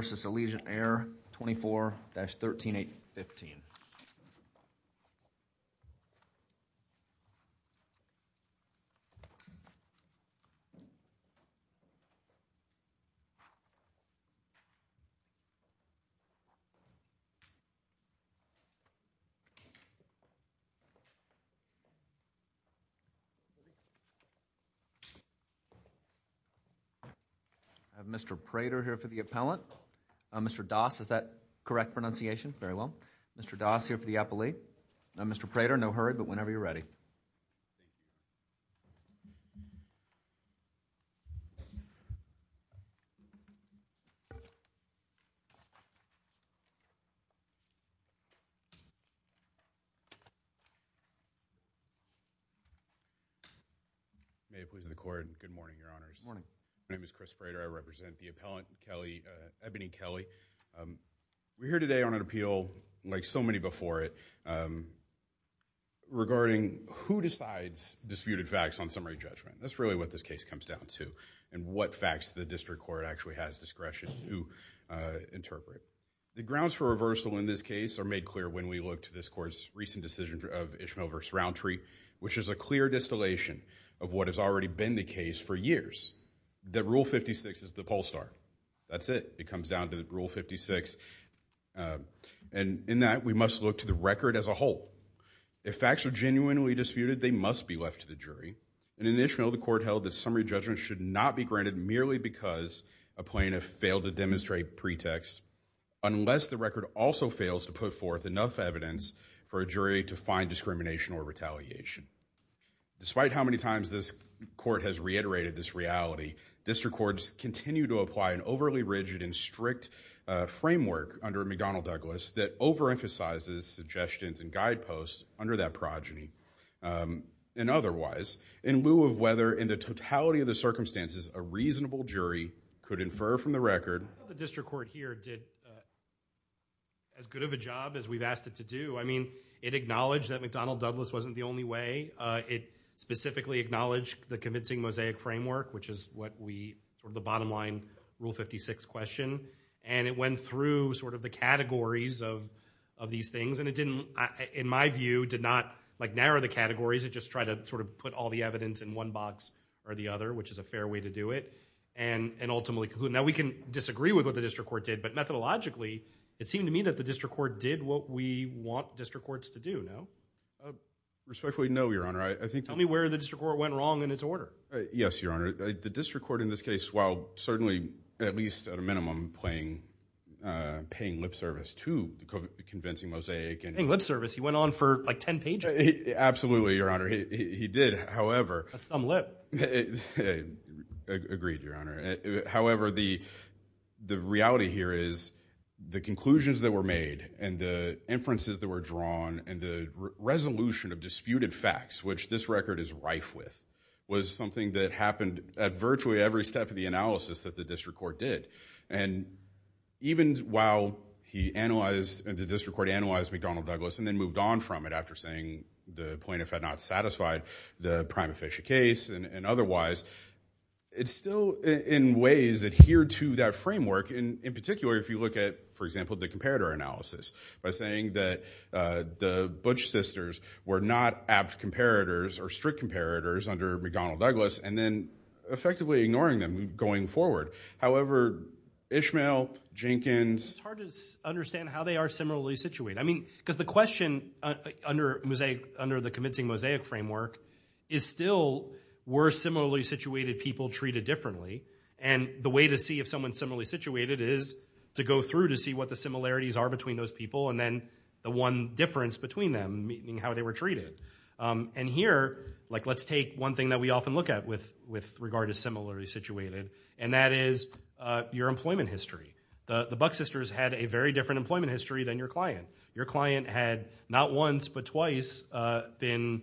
v. Allegiant Air, 24-13815. I have Mr. Prater here for the appellant. Mr. Doss, is that correct pronunciation? Very well. Mr. Doss here for the appellee. Now, Mr. Prater, no hurry, but whenever you're ready. May it please the Court. Good morning, Your Honors. Good morning. My name is Chris Prater. I represent the appellant, Kelley, Ebony Kelley. We're here today on an appeal. This is an appeal, like so many before it, regarding who decides disputed facts on summary judgment. That's really what this case comes down to, and what facts the district court actually has discretion to interpret. The grounds for reversal in this case are made clear when we look to this Court's recent decision of Ishmael v. Roundtree, which is a clear distillation of what has already been the case for years, that Rule 56 is the poll star. That's it. It comes down to Rule 56, and in that, we must look to the record as a whole. If facts are genuinely disputed, they must be left to the jury, and in Ishmael, the Court held that summary judgment should not be granted merely because a plaintiff failed to demonstrate pretext, unless the record also fails to put forth enough evidence for a jury to find discrimination or retaliation. Despite how many times this Court has reiterated this reality, district courts continue to apply an overly rigid and strict framework under McDonnell-Douglas that overemphasizes suggestions and guideposts under that progeny, and otherwise, in lieu of whether in the totality of the circumstances a reasonable jury could infer from the record... I don't think the district court here did as good of a job as we've asked it to do. I mean, it acknowledged that McDonnell-Douglas wasn't the only way. It specifically acknowledged the convincing mosaic framework, which is what we, from the bottom line, Rule 56 question, and it went through sort of the categories of these things, and it didn't, in my view, did not like narrow the categories. It just tried to sort of put all the evidence in one box or the other, which is a fair way to do it, and ultimately... Now, we can disagree with what the district court did, but methodologically, it seemed to me that the district court did what we want district courts to do. No? Respectfully, no, Your Honor. I think... Tell me where the district court went wrong in its order. Yes, Your Honor. The district court, in this case, while certainly, at least at a minimum, paying lip service to the convincing mosaic... Paying lip service? He went on for like 10 pages. Absolutely, Your Honor. He did. However... That's some lip. Agreed, Your Honor. However, the reality here is the conclusions that were made and the inferences that were drawn and the resolution of disputed facts, which this record is rife with, was something that happened at virtually every step of the analysis that the district court did. Even while he analyzed... the district court analyzed McDonnell-Douglas and then moved on from it after saying the plaintiff had not satisfied the prima facie case and otherwise, it still, in ways, adhered to that framework, and in particular, if you look at, for example, the comparator analysis, by saying that the Butch sisters were not apt comparators or strict comparators under McDonnell-Douglas and then effectively ignoring them going forward. However, Ishmael, Jenkins... It's hard to understand how they are similarly situated. I mean, because the question under the convincing mosaic framework is still, were similarly situated people treated differently? And the way to see if someone's similarly situated is to go through to see what the similarities are between those people and then the one difference between them, meaning how they were treated. And here, let's take one thing that we often look at with regard to similarly situated, and that is your employment history. The Butch sisters had a very different employment history than your client. Your client had, not once, but twice, been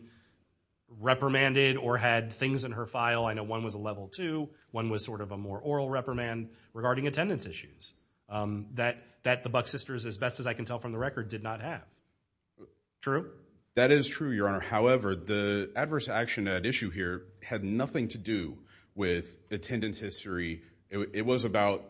reprimanded or had things in her file. I know one was a level two. One was sort of a more oral reprimand regarding attendance issues that the Butch sisters, as best as I can tell from the record, did not have. True? Sure. That is true, Your Honor. However, the adverse action at issue here had nothing to do with attendance history. It was about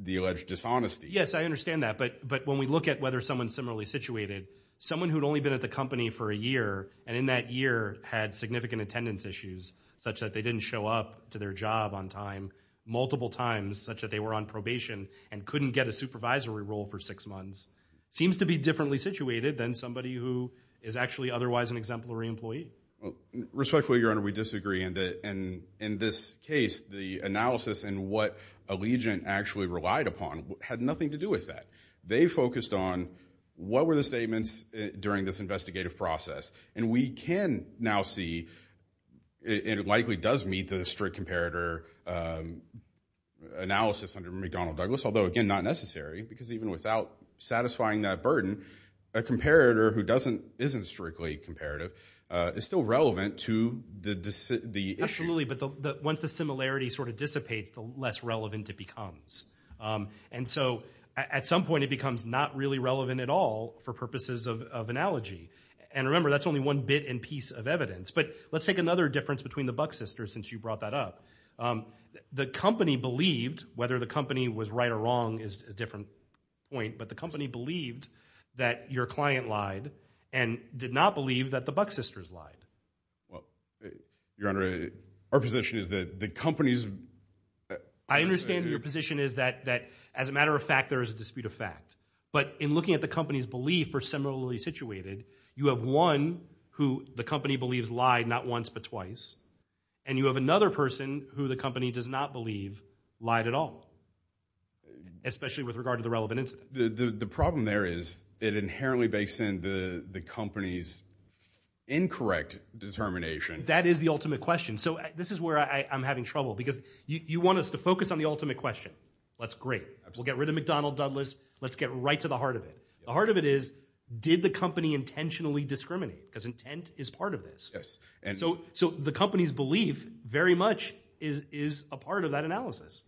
the alleged dishonesty. Yes, I understand that. But when we look at whether someone's similarly situated, someone who'd only been at the company for a year, and in that year had significant attendance issues, such that they didn't show up to their job on time multiple times, such that they were on probation and couldn't get a supervisory role for six months, seems to be differently situated than somebody who is actually otherwise an exemplary employee. Respectfully, Your Honor, we disagree. In this case, the analysis and what Allegiant actually relied upon had nothing to do with that. They focused on what were the statements during this investigative process. And we can now see, it likely does meet the strict comparator analysis under McDonnell-Douglas, although again, not necessary, because even without satisfying that burden, a comparator who isn't strictly comparative is still relevant to the issue. Absolutely, but once the similarity sort of dissipates, the less relevant it becomes. And so at some point, it becomes not really relevant at all for purposes of analogy. And remember, that's only one bit and piece of evidence. But let's take another difference between the Buck sisters, since you brought that up. The company believed, whether the company was right or wrong is a different point, but the company believed that your client lied and did not believe that the Buck sisters lied. Well, Your Honor, our position is that the company's... I understand your position is that as a matter of fact, there is a dispute of fact. But in looking at the company's belief for similarly situated, you have one who the company believes lied not once but twice, and you have another person who the company does not believe lied at all, especially with regard to the relevant incident. The problem there is it inherently bakes in the company's incorrect determination. That is the ultimate question. So this is where I'm having trouble, because you want us to focus on the ultimate question. That's great. We'll get rid of McDonnell-Dudless. Let's get right to the heart of it. The heart of it is, did the company intentionally discriminate? Because intent is part of this. So the company's belief very much is a part of that analysis.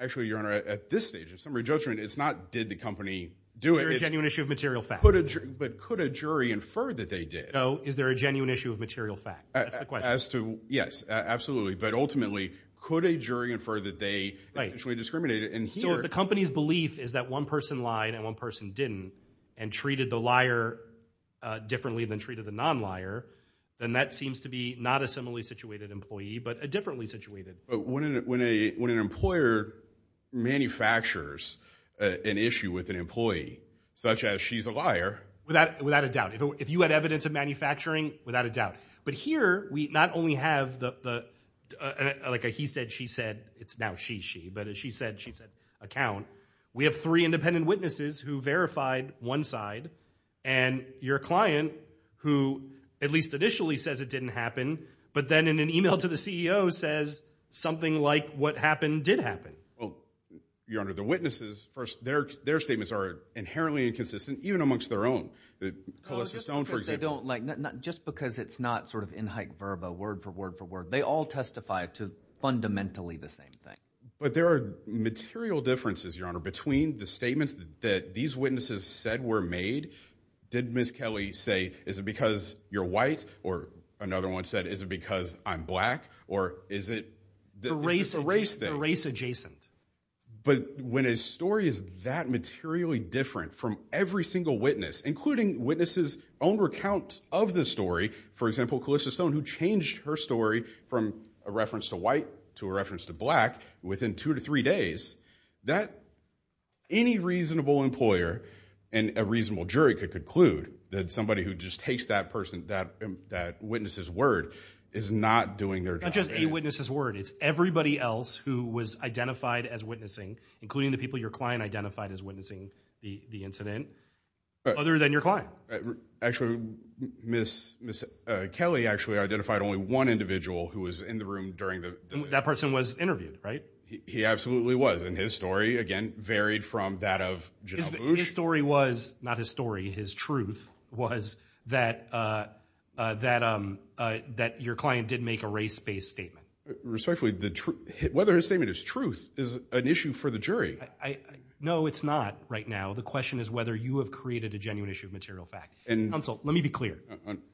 Actually, Your Honor, at this stage of summary judgment, it's not, did the company do it? Is there a genuine issue of material fact? But could a jury infer that they did? No. Is there a genuine issue of material fact? That's the question. As to... Yes, absolutely. But ultimately, could a jury infer that they intentionally discriminated? And here... So if the company's belief is that one person lied and one person didn't, and treated the liar differently than treated the non-liar, then that seems to be not a similarly situated employee, but a differently situated. But when an employer manufactures an issue with an employee, such as she's a liar... Without a doubt. If you had evidence of manufacturing, without a doubt. But here, we not only have the, like a he said, she said, it's now she, she. But a she said, she said account. We have three independent witnesses who verified one side. And your client, who at least initially says it didn't happen, but then in an email to the CEO says something like, what happened, did happen. Well, your honor, the witnesses, first, their, their statements are inherently inconsistent, even amongst their own. The, Melissa Stone, for example... No, just because they don't like... Just because it's not sort of in hike verba, word for word for word. They all testify to fundamentally the same thing. But there are material differences, your honor, between the statements that these witnesses said were made. Did Ms. Kelly say, is it because you're white? Or another one said, is it because I'm black? Or is it... The race, the race adjacent. But when a story is that materially different from every single witness, including witnesses' own recount of the story, for example, Melissa Stone, who changed her story from a reference to white to a reference to black within two to three days, that any reasonable employer and a reasonable jury could conclude that somebody who just takes that person, that, that witness's word, is not doing their job. Not just a witness's word. It's everybody else who was identified as witnessing, including the people your client identified as witnessing the incident, other than your client. Actually, Ms. Kelly actually identified only one individual who was in the room during the... That person was interviewed, right? He absolutely was. And his story, again, varied from that of General Bush. His story was, not his story, his truth, was that, that your client did make a race-based statement. Respectfully, whether his statement is truth is an issue for the jury. No, it's not right now. The question is whether you have created a genuine issue of material fact. Counsel, let me be clear.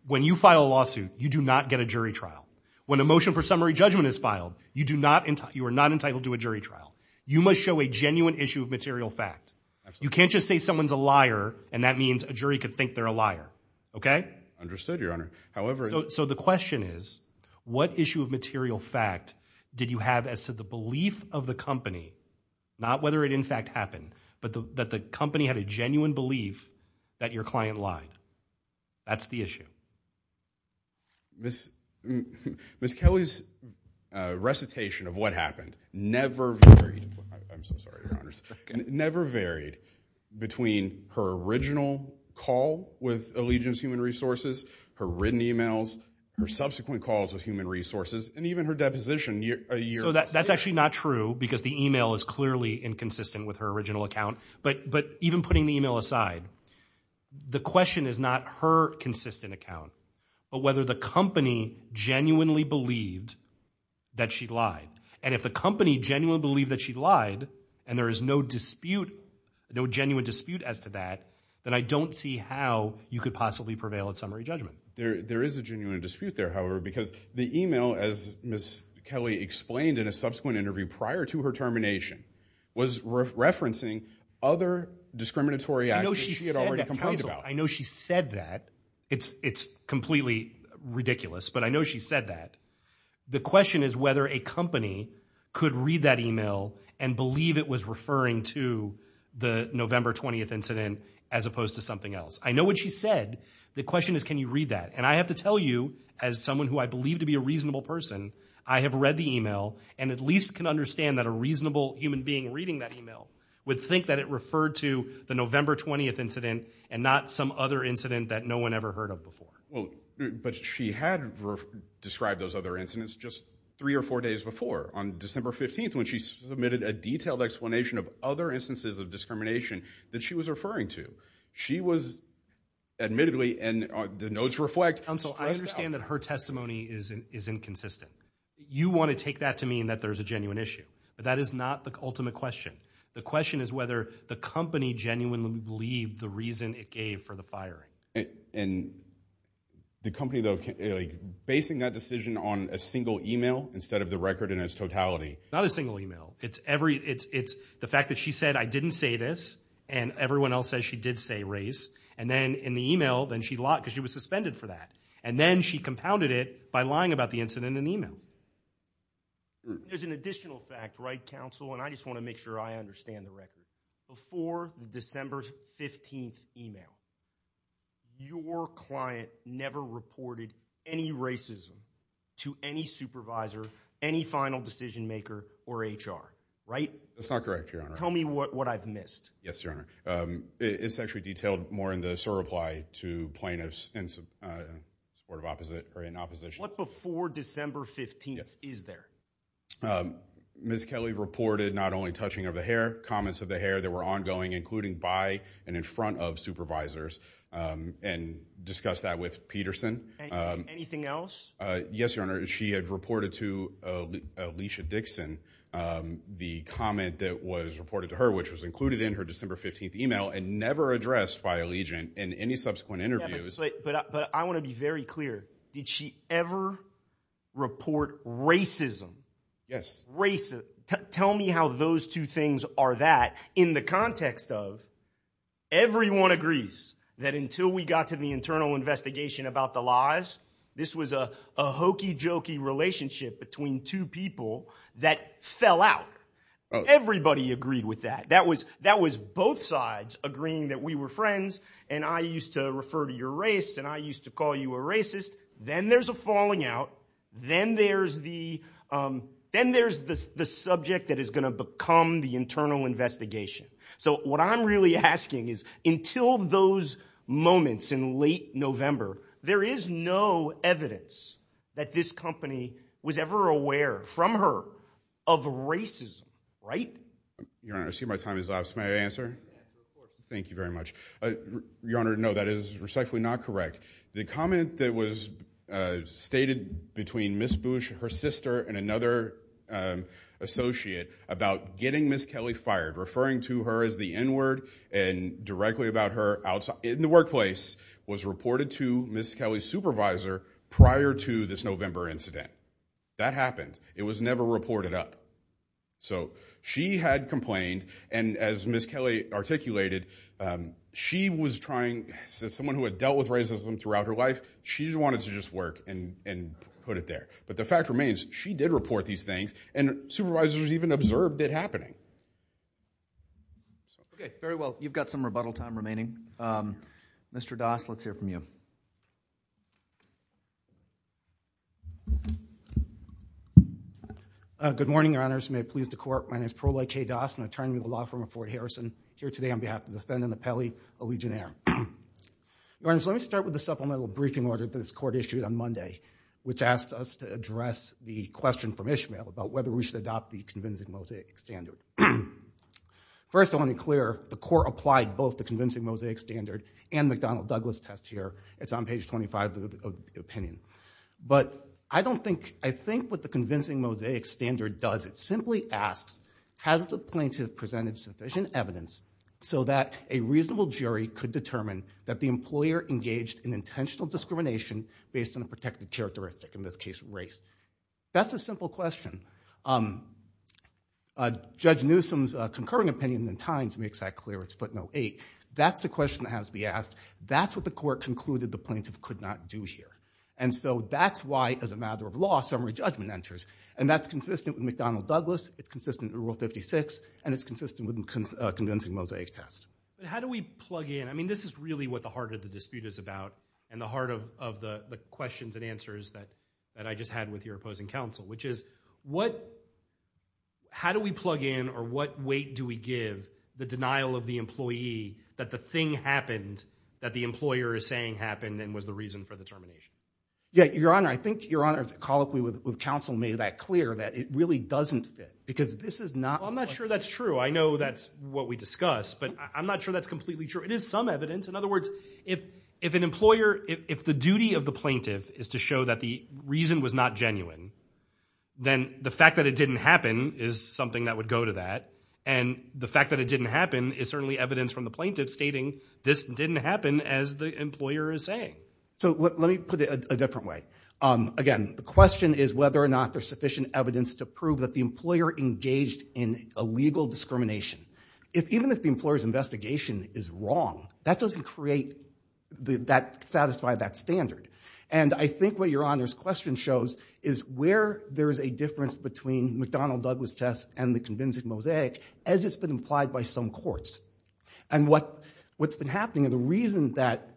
When you file a lawsuit, you do not get a jury trial. When a motion for summary judgment is filed, you do not, you are not entitled to a jury trial. You must show a genuine issue of material fact. You can't just say someone's a liar, and that means a jury could think they're a liar. Okay? Understood, Your Honor. However... So the question is, what issue of material fact did you have as to the belief of the company, not whether it in fact happened, but that the company had a genuine belief that your client lied? That's the issue. Ms. Kelly's recitation of what happened never varied, I'm so sorry, Your Honors, never varied between her original call with Allegiance Human Resources, her written emails, her subsequent calls with Human Resources, and even her deposition a year later. So that's actually not true, because the email is clearly inconsistent with her original account. But even putting the email aside, the question is not her consistent account, but whether the company genuinely believed that she lied. And if the company genuinely believed that she lied, and there is no dispute, no genuine dispute as to that, then I don't see how you could possibly prevail at summary judgment. There is a genuine dispute there, however, because the email, as Ms. Kelly explained in a subsequent interview prior to her termination, was referencing other discriminatory acts that she had already complained about. I know she said that. It's completely ridiculous, but I know she said that. The question is whether a company could read that email and believe it was referring to the November 20th incident as opposed to something else. I know what she said. The question is, can you read that? And I have to tell you, as someone who I believe to be a reasonable person, I have read the email, and at least can understand that a reasonable human being reading that email would think that it referred to the November 20th incident, and not some other incident that no one ever heard of before. But she had described those other incidents just three or four days before, on December 15th, when she submitted a detailed explanation of other instances of discrimination that she was referring to. She was, admittedly, and the notes reflect... Counsel, I understand that her testimony is inconsistent. You want to take that to mean that there's a genuine issue. That is not the ultimate question. The question is whether the company genuinely believed the reason it gave for the firing. And the company, though, basing that decision on a single email instead of the record in its totality? Not a single email. It's every... It's the fact that she said, I didn't say this, and everyone else says she did say race, and then in the email, then she lied, because she was suspended for that. And then she compounded it by lying about the incident in the email. There's an additional fact, right, Counsel, and I just want to make sure I understand the record. Before the December 15th email, your client never reported any racism to any supervisor, any final decision maker, or HR, right? That's not correct, Your Honor. Tell me what I've missed. Yes, Your Honor. It's actually detailed more in the SOAR reply to plaintiffs in support of opposite, or in opposition. What before December 15th is there? Ms. Kelly reported not only touching of the hair, comments of the hair that were ongoing, including by and in front of supervisors, and discussed that with Peterson. Anything else? Yes, Your Honor. She had reported to Alicia Dixon the comment that was reported to her, which was included in her December 15th email, and never addressed by Allegiant in any subsequent interviews. But I want to be very clear, did she ever report racism? Yes. Racism. Tell me how those two things are that, in the context of, everyone agrees that until we got to the internal investigation about the lies, this was a hokey-jokey relationship between two people that fell out. Everybody agreed with that. That was both sides agreeing that we were friends, and I used to refer to your race, and I used to call you a racist. Then there's a falling out. Then there's the subject that is going to become the internal investigation. So what I'm really asking is, until those moments in late November, there is no evidence that this company was ever aware, from her, of racism, right? Your Honor, I see my time is up. May I answer? Yes, of course. Thank you very much. Your Honor, no, that is respectfully not correct. The comment that was stated between Ms. Bush, her sister, and another associate about getting Ms. Kelly fired, referring to her as the N-word, and directly about her in the workplace, was reported to Ms. Kelly's supervisor prior to this November incident. That happened. It was never reported up. So she had complained, and as Ms. Kelly articulated, she was trying, as someone who had dealt with racism throughout her life, she just wanted to just work and put it there. But the fact remains, she did report these things, and supervisors even observed it happening. Okay. Very well. You've got some rebuttal time remaining. Mr. Das, let's hear from you. Good morning, Your Honors. May it please the Court. My name is Perlai K. Das, an attorney with the law firm of Fort Harrison, here today on behalf of the defendant of Kelly, a Legionnaire. Your Honors, let me start with the supplemental briefing order that this Court issued on Monday, which asked us to address the question from Ishmael about whether we should adopt the convincing mosaic standard. First, I want to be clear, the Court applied both the convincing mosaic standard and McDonnell Douglas test here. It's on page 25 of the opinion. But I think what the convincing mosaic standard does, it simply asks, has the plaintiff presented sufficient evidence so that a reasonable jury could determine that the employer engaged in intentional discrimination based on a protected characteristic, in this case, race? That's a simple question. Judge Newsom's concurring opinion at times makes that clear. It's footnote 8. That's the question that has to be asked. That's what the Court concluded the plaintiff could not do here. And so that's why, as a matter of law, summary judgment enters. And that's consistent with McDonnell Douglas, it's consistent with Rule 56, and it's consistent with convincing mosaic test. How do we plug in? I mean, this is really what the heart of the dispute is about, and the heart of the questions and answers that I just had with your opposing counsel, which is, how do we plug in, or what weight do we give the denial of the employee that the thing happened that the employer is saying happened and was the reason for the termination? Yeah, Your Honor, I think Your Honor's colloquy with counsel made that clear, that it really doesn't fit. Because this is not... Well, I'm not sure that's true. I know that's what we discussed, but I'm not sure that's completely true. It is some evidence. In other words, if an employer, if the duty of the plaintiff is to show that the reason was not genuine, then the fact that it didn't happen is something that would go to that. And the fact that it didn't happen is certainly evidence from the plaintiff stating this didn't happen as the employer is saying. So let me put it a different way. Again, the question is whether or not there's sufficient evidence to prove that the employer engaged in a legal discrimination. Even if the employer's investigation is wrong, that doesn't create that, satisfy that standard. And I think what Your Honor's question shows is where there is a difference between McDonnell-Douglas tests and the convincing mosaic as it's been implied by some courts. And what's been happening, and the reason that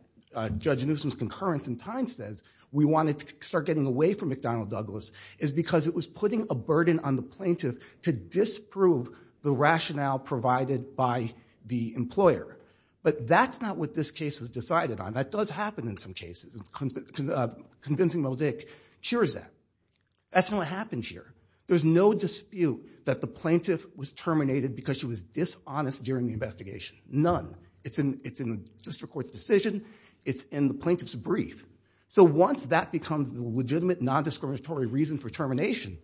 Judge Newsom's concurrence in time says we want to start getting away from McDonnell-Douglas is because it was putting a burden on the plaintiff to disprove the rationale provided by the employer. But that's not what this case was decided on. That does happen in some cases. Convincing mosaic. Sure as that. That's not what happens here. There's no dispute that the plaintiff was terminated because she was dishonest during the investigation. None. It's in the district court's decision. It's in the plaintiff's brief. So once that becomes the legitimate, non-discriminatory reason for termination,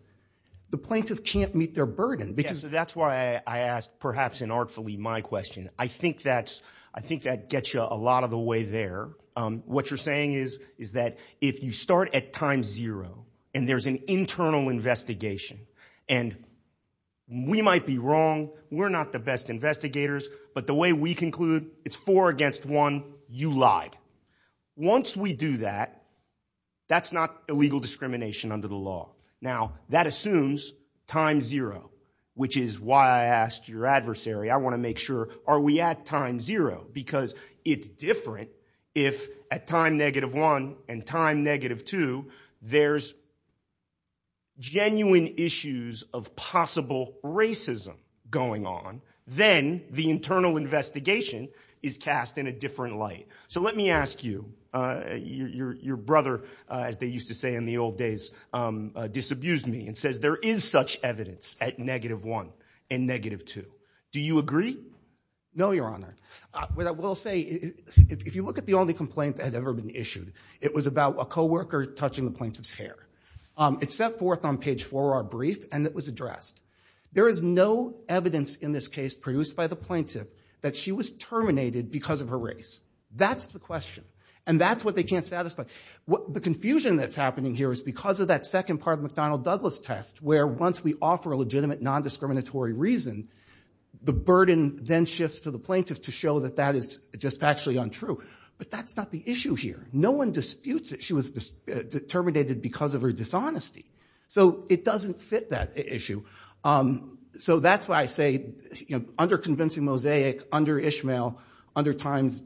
the plaintiff can't meet their burden. Yeah, so that's why I asked, perhaps inartfully, my question. I think that gets you a lot of the way there. What you're saying is that if you start at time zero, and there's an internal investigation, and we might be wrong. We're not the best investigators. But the way we conclude, it's four against one. You lied. Once we do that, that's not illegal discrimination under the law. Now that assumes time zero, which is why I asked your adversary. I want to make sure, are we at time zero? Because it's different if at time negative one and time negative two, there's genuine issues of possible racism going on. Then the internal investigation is cast in a different light. So let me ask you, your brother, as they used to say in the old days, disabused me and says, there is such evidence at negative one and negative two. Do you agree? No, Your Honor. What I will say, if you look at the only complaint that had ever been issued, it was about a co-worker touching the plaintiff's hair. It's set forth on page four of our brief, and it was addressed. There is no evidence in this case produced by the plaintiff that she was terminated because of her race. That's the question. And that's what they can't satisfy. The confusion that's happening here is because of that second part of the McDonnell-Douglas test, where once we offer a legitimate, non-discriminatory reason, the burden then shifts to the plaintiff to show that that is just actually untrue. But that's not the issue here. No one disputes that she was terminated because of her dishonesty. So it doesn't fit that issue. So that's why I say, under convincing Mosaic, under Ishmael, under Times,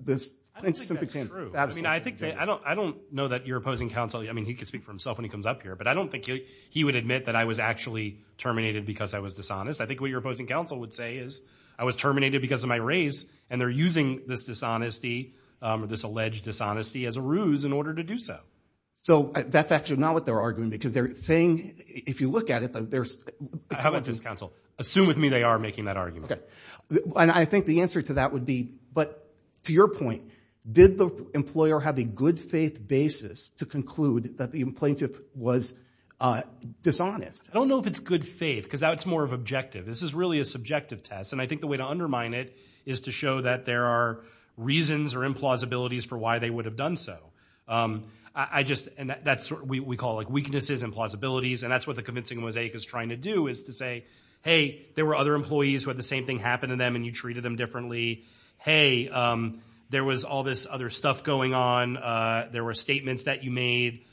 this plaintiff simply can't satisfy. I think that's true. I don't know that you're opposing counsel. I mean, he could speak for himself when he comes up here. But I don't think he would admit that I was actually terminated because I was dishonest. I think what you're opposing counsel would say is, I was terminated because of my race. And they're using this dishonesty, this alleged dishonesty, as a ruse in order to do so. So that's actually not what they're arguing. Because they're saying, if you look at it, that there's- How about this, counsel? Assume with me they are making that argument. And I think the answer to that would be, but to your point, did the employer have a good faith basis to conclude that the plaintiff was dishonest? I don't know if it's good faith, because that's more of objective. This is really a subjective test. And I think the way to undermine it is to show that there are reasons or implausibilities for why they would have done so. I just, and that's what we call, like, weaknesses and plausibilities. And that's what the convincing Mosaic is trying to do, is to say, hey, there were other employees who had the same thing happen to them, and you treated them differently. Hey, there was all this other stuff going on. There were statements that you made.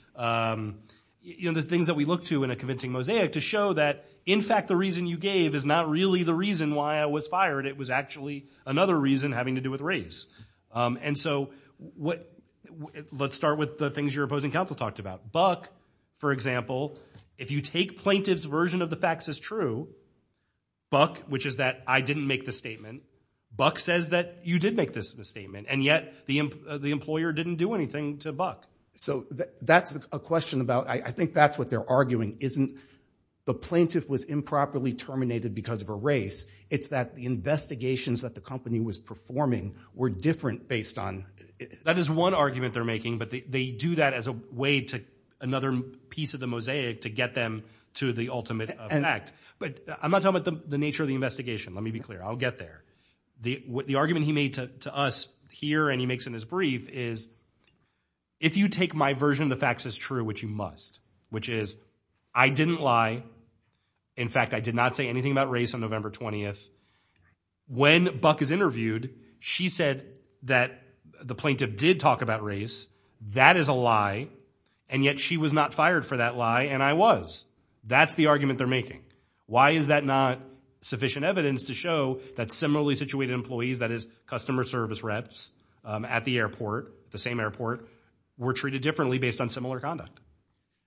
You know, the things that we look to in a convincing Mosaic to show that, in fact, the reason you gave is not really the reason why I was fired. It was actually another reason having to do with race. And so, let's start with the things your opposing counsel talked about. Buck, for example, if you take plaintiff's version of the facts as true, Buck, which is that I didn't make the statement, Buck says that you did make this statement. And yet, the employer didn't do anything to Buck. So, that's a question about, I think that's what they're arguing, isn't the plaintiff was improperly terminated because of a race. It's that the investigations that the company was performing were different based on. That is one argument they're making, but they do that as a way to another piece of the Mosaic to get them to the ultimate fact. But I'm not talking about the nature of the investigation. Let me be clear, I'll get there. The argument he made to us here and he makes in his brief is if you take my version of the facts as true, which you must, which is I didn't lie. In fact, I did not say anything about race on November 20th. When Buck is interviewed, she said that the plaintiff did talk about race. That is a lie. And yet, she was not fired for that lie and I was. That's the argument they're making. Why is that not sufficient evidence to show that similarly situated employees, that is customer service reps at the airport, the same airport, were treated differently based on similar conduct?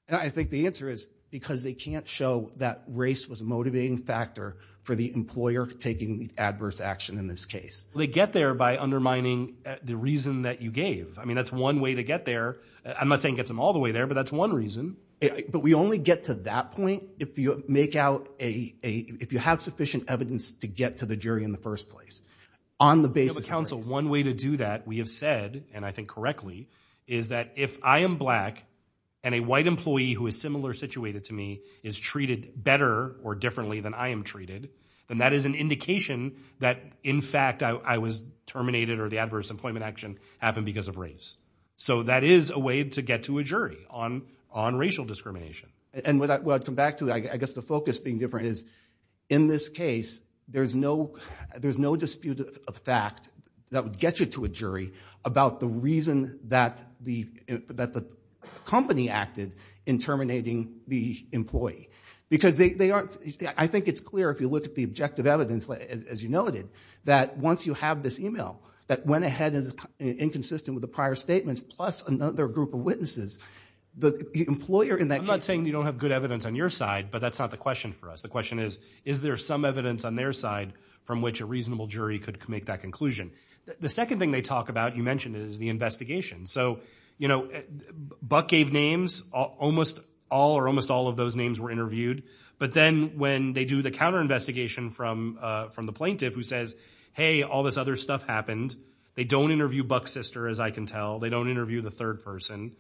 And I think the answer is because they can't show that race was a motivating factor for the employer taking adverse action in this case. They get there by undermining the reason that you gave. I mean, that's one way to get there. I'm not saying it gets them all the way there, but that's one reason. But we only get to that point if you make out a, if you have sufficient evidence to get to the jury in the first place. On the basis of race. Council, one way to do that, we have said, and I think correctly, is that if I am black and a white employee who is similar situated to me is treated better or differently than I am treated, then that is an indication that, in fact, I was terminated or the adverse employment action happened because of race. So that is a way to get to a jury on racial discrimination. And when I come back to it, I guess the focus being different is, in this case, there's no dispute of fact that would get you to a jury about the reason that the company acted in terminating the employee. Because they aren't, I think it's clear if you look at the objective evidence, as you noted, that once you have this email that went ahead as inconsistent with the prior statements plus another group of witnesses, the employer in that case. I'm not saying you don't have good evidence on your side, but that's not the question for us. The question is, is there some evidence on their side from which a reasonable jury could make that conclusion? The second thing they talk about, you mentioned it, is the investigation. So, you know, Buck gave names. Almost all or almost all of those names were interviewed. But then when they do the counter-investigation from the plaintiff who says, hey, all this other stuff happened. They don't interview Buck's sister, as I can tell. They don't interview the third person.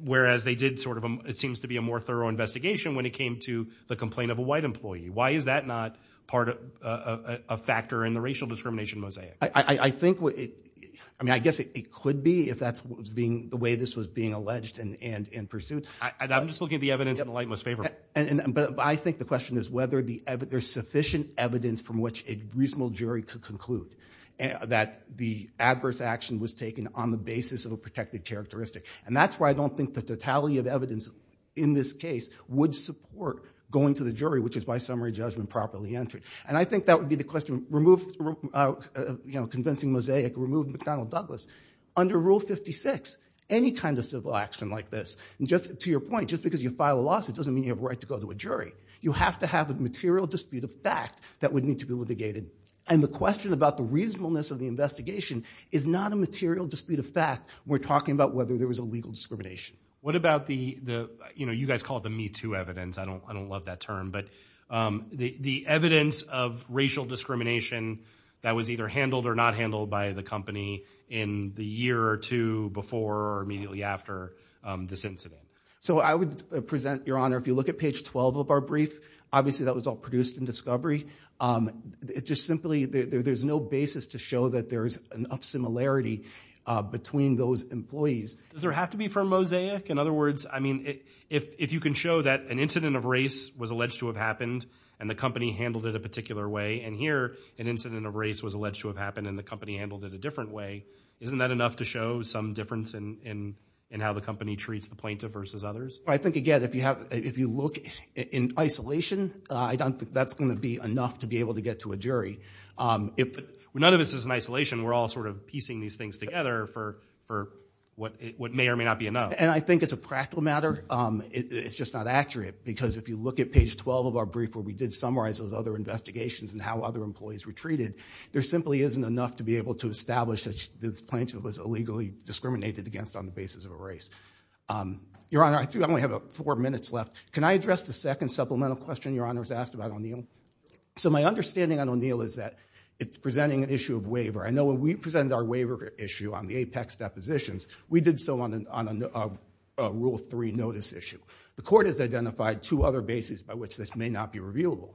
Whereas they did sort of, it seems to be a more thorough investigation when it came to the complaint of a white employee. Why is that not part of a factor in the racial discrimination mosaic? I think what it, I mean, I guess it could be if that's what was being, the way this was being alleged and pursued. I'm just looking at the evidence in the light most favorable. But I think the question is whether the evidence, there's sufficient evidence from which a reasonable jury could conclude that the adverse action was taken on the basis of a protected characteristic. And that's why I don't think the totality of evidence in this case would support going to the jury, which is by summary judgment, properly entered. And I think that would be the question, remove, you know, convincing mosaic, remove McDonnell Douglas. Under Rule 56, any kind of civil action like this, and just to your point, just because you file a lawsuit doesn't mean you have a right to go to a jury. You have to have a material dispute of fact that would need to be litigated. And the question about the reasonableness of the investigation is not a material dispute of fact. We're talking about whether there was a legal discrimination. What about the, you know, you guys call it the Me Too evidence, I don't love that term, but the evidence of racial discrimination that was either handled or not handled by the company in the year or two before or immediately after this incident? So I would present, Your Honor, if you look at page 12 of our brief, obviously that was all produced in discovery. It just simply, there's no basis to show that there's enough similarity between those employees. Does there have to be firm mosaic? In other words, I mean, if you can show that an incident of race was alleged to have happened and the company handled it a particular way, and here, an incident of race was alleged to have happened and the company handled it a different way, isn't that enough to show some difference in how the company treats the plaintiff versus others? I think, again, if you have, if you look in isolation, I don't think that's gonna be enough to be able to get to a jury. If none of this is in isolation, we're all sort of piecing these things together for what may or may not be enough. And I think it's a practical matter, it's just not accurate, because if you look at page 12 of our brief where we did summarize those other investigations and how other employees were treated, there simply isn't enough to be able to establish that this plaintiff was illegally discriminated against on the basis of a race. Your Honor, I think I only have four minutes left. Can I address the second supplemental question Your Honor has asked about O'Neill? So my understanding on O'Neill is that it's presenting an issue of waiver. I know when we presented our waiver issue on the apex depositions, we did so on a rule three notice issue. The court has identified two other bases by which this may not be reviewable.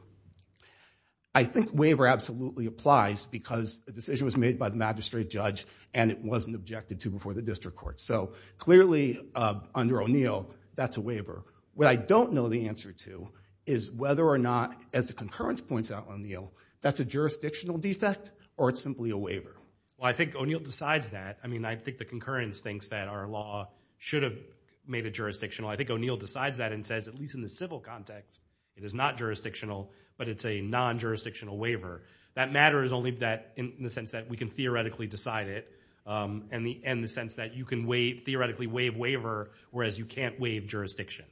I think waiver absolutely applies because the decision was made by the magistrate judge and it wasn't objected to before the district court. So clearly, under O'Neill, that's a waiver. What I don't know the answer to is whether or not, as the concurrence points out on O'Neill, that's a jurisdictional defect or it's simply a waiver. Well, I think O'Neill decides that. I mean, I think the concurrence thinks that our law should have made it jurisdictional. I think O'Neill decides that and says, at least in the civil context, it is not jurisdictional, but it's a non-jurisdictional waiver. That matter is only in the sense that we can theoretically decide it and the sense that you can theoretically waive waiver whereas you can't waive jurisdiction.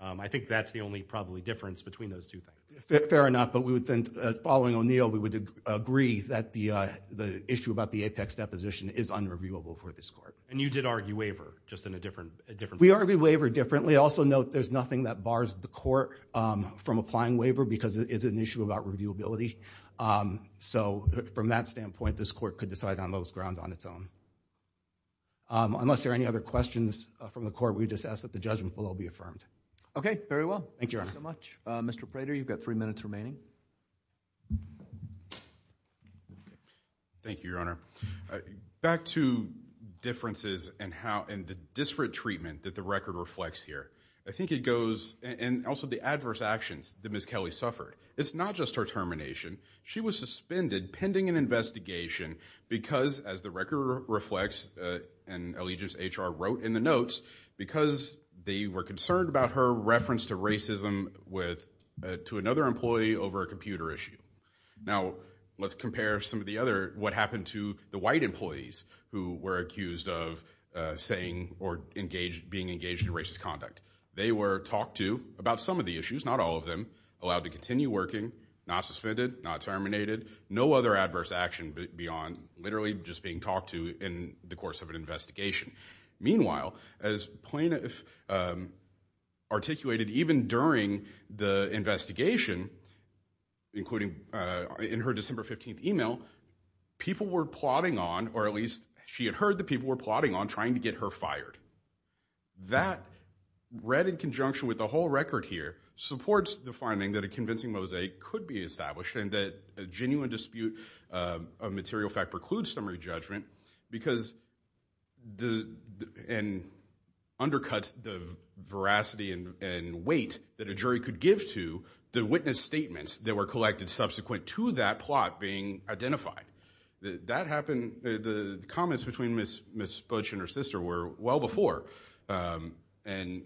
I think that's the only probably difference between those two things. Fair enough, but we would think, following O'Neill, we would agree that the issue about the apex deposition is unreviewable for this court. And you did argue waiver, just in a different way. We argue waiver differently. Also note, there's nothing that bars the court from applying waiver because it is an issue about reviewability. So from that standpoint, this court could decide on those grounds on its own. Unless there are any other questions from the court, we just ask that the judgment below be affirmed. Okay, very well. Thank you, Your Honor. Thank you so much. Mr. Prater, you've got three minutes remaining. Thank you, Your Honor. Back to differences and the disparate treatment that the record reflects here. I think it goes, and also the adverse actions that Ms. Kelly suffered. It's not just her termination. She was suspended pending an investigation because, as the record reflects, and allegiance HR wrote in the notes, because they were concerned about her reference to racism to another employee over a computer issue. Now, let's compare some of the other, what happened to the white employees who were accused of saying or being engaged in racist conduct. They were talked to about some of the issues, not all of them, allowed to continue working, not suspended, not terminated, no other adverse action beyond literally just being talked to in the course of an investigation. Meanwhile, as Plano articulated, even during the investigation, including in her December 15th email, people were plotting on, or at least she had heard that people were plotting on trying to get her fired. That, read in conjunction with the whole record here, supports the finding that a convincing mosaic could be established and that a genuine dispute of material fact precludes summary judgment because, and undercuts the veracity and weight that a jury could give to the witness statements that were collected subsequent to that plot being identified. That happened, the comments between Ms. Butch and her sister were well before, and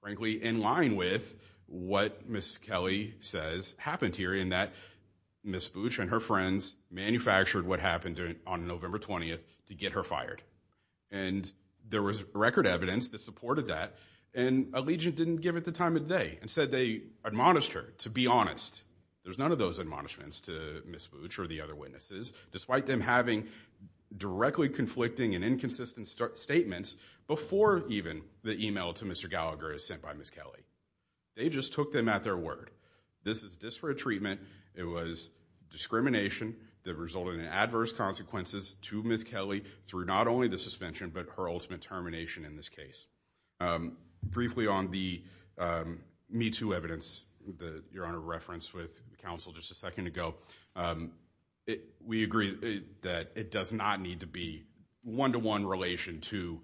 frankly, in line with what Ms. Kelly says happened here in that Ms. Butch and her friends manufactured what happened on November 20th to get her fired, and there was record evidence that supported that, and Allegiant didn't give it the time of day, instead they admonished her to be honest, there's none of those admonishments to Ms. Butch or the other witnesses, despite them having directly conflicting and inconsistent statements before even the email to Mr. Gallagher is sent by Ms. Kelly. They just took them at their word. This is disparate treatment, it was discrimination that resulted in adverse consequences to Ms. Kelly through not only the suspension, but her ultimate termination in this case. Briefly on the Me Too evidence that Your Honor referenced with counsel just a second ago, we agree that it does not need to be one-to-one relation to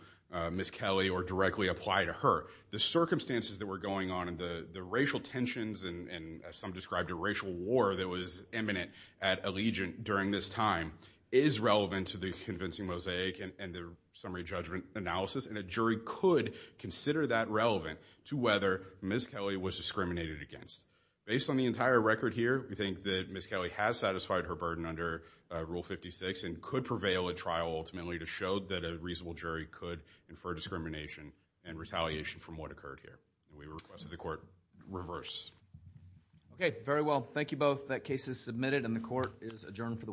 Ms. Kelly or directly apply to her. The circumstances that were going on, and the racial tensions, and as some described, a racial war that was imminent at Allegiant during this time is relevant to the convincing mosaic and the summary judgment analysis, and a jury could consider that relevant to whether Ms. Kelly was discriminated against. Based on the entire record here, we think that Ms. Kelly has satisfied her burden under Rule 56 and could prevail at trial ultimately to show that a reasonable jury could infer discrimination and retaliation from what occurred here. We request that the court reverse. Okay, very well. Thank you both. That case is submitted and the court is adjourned for the week.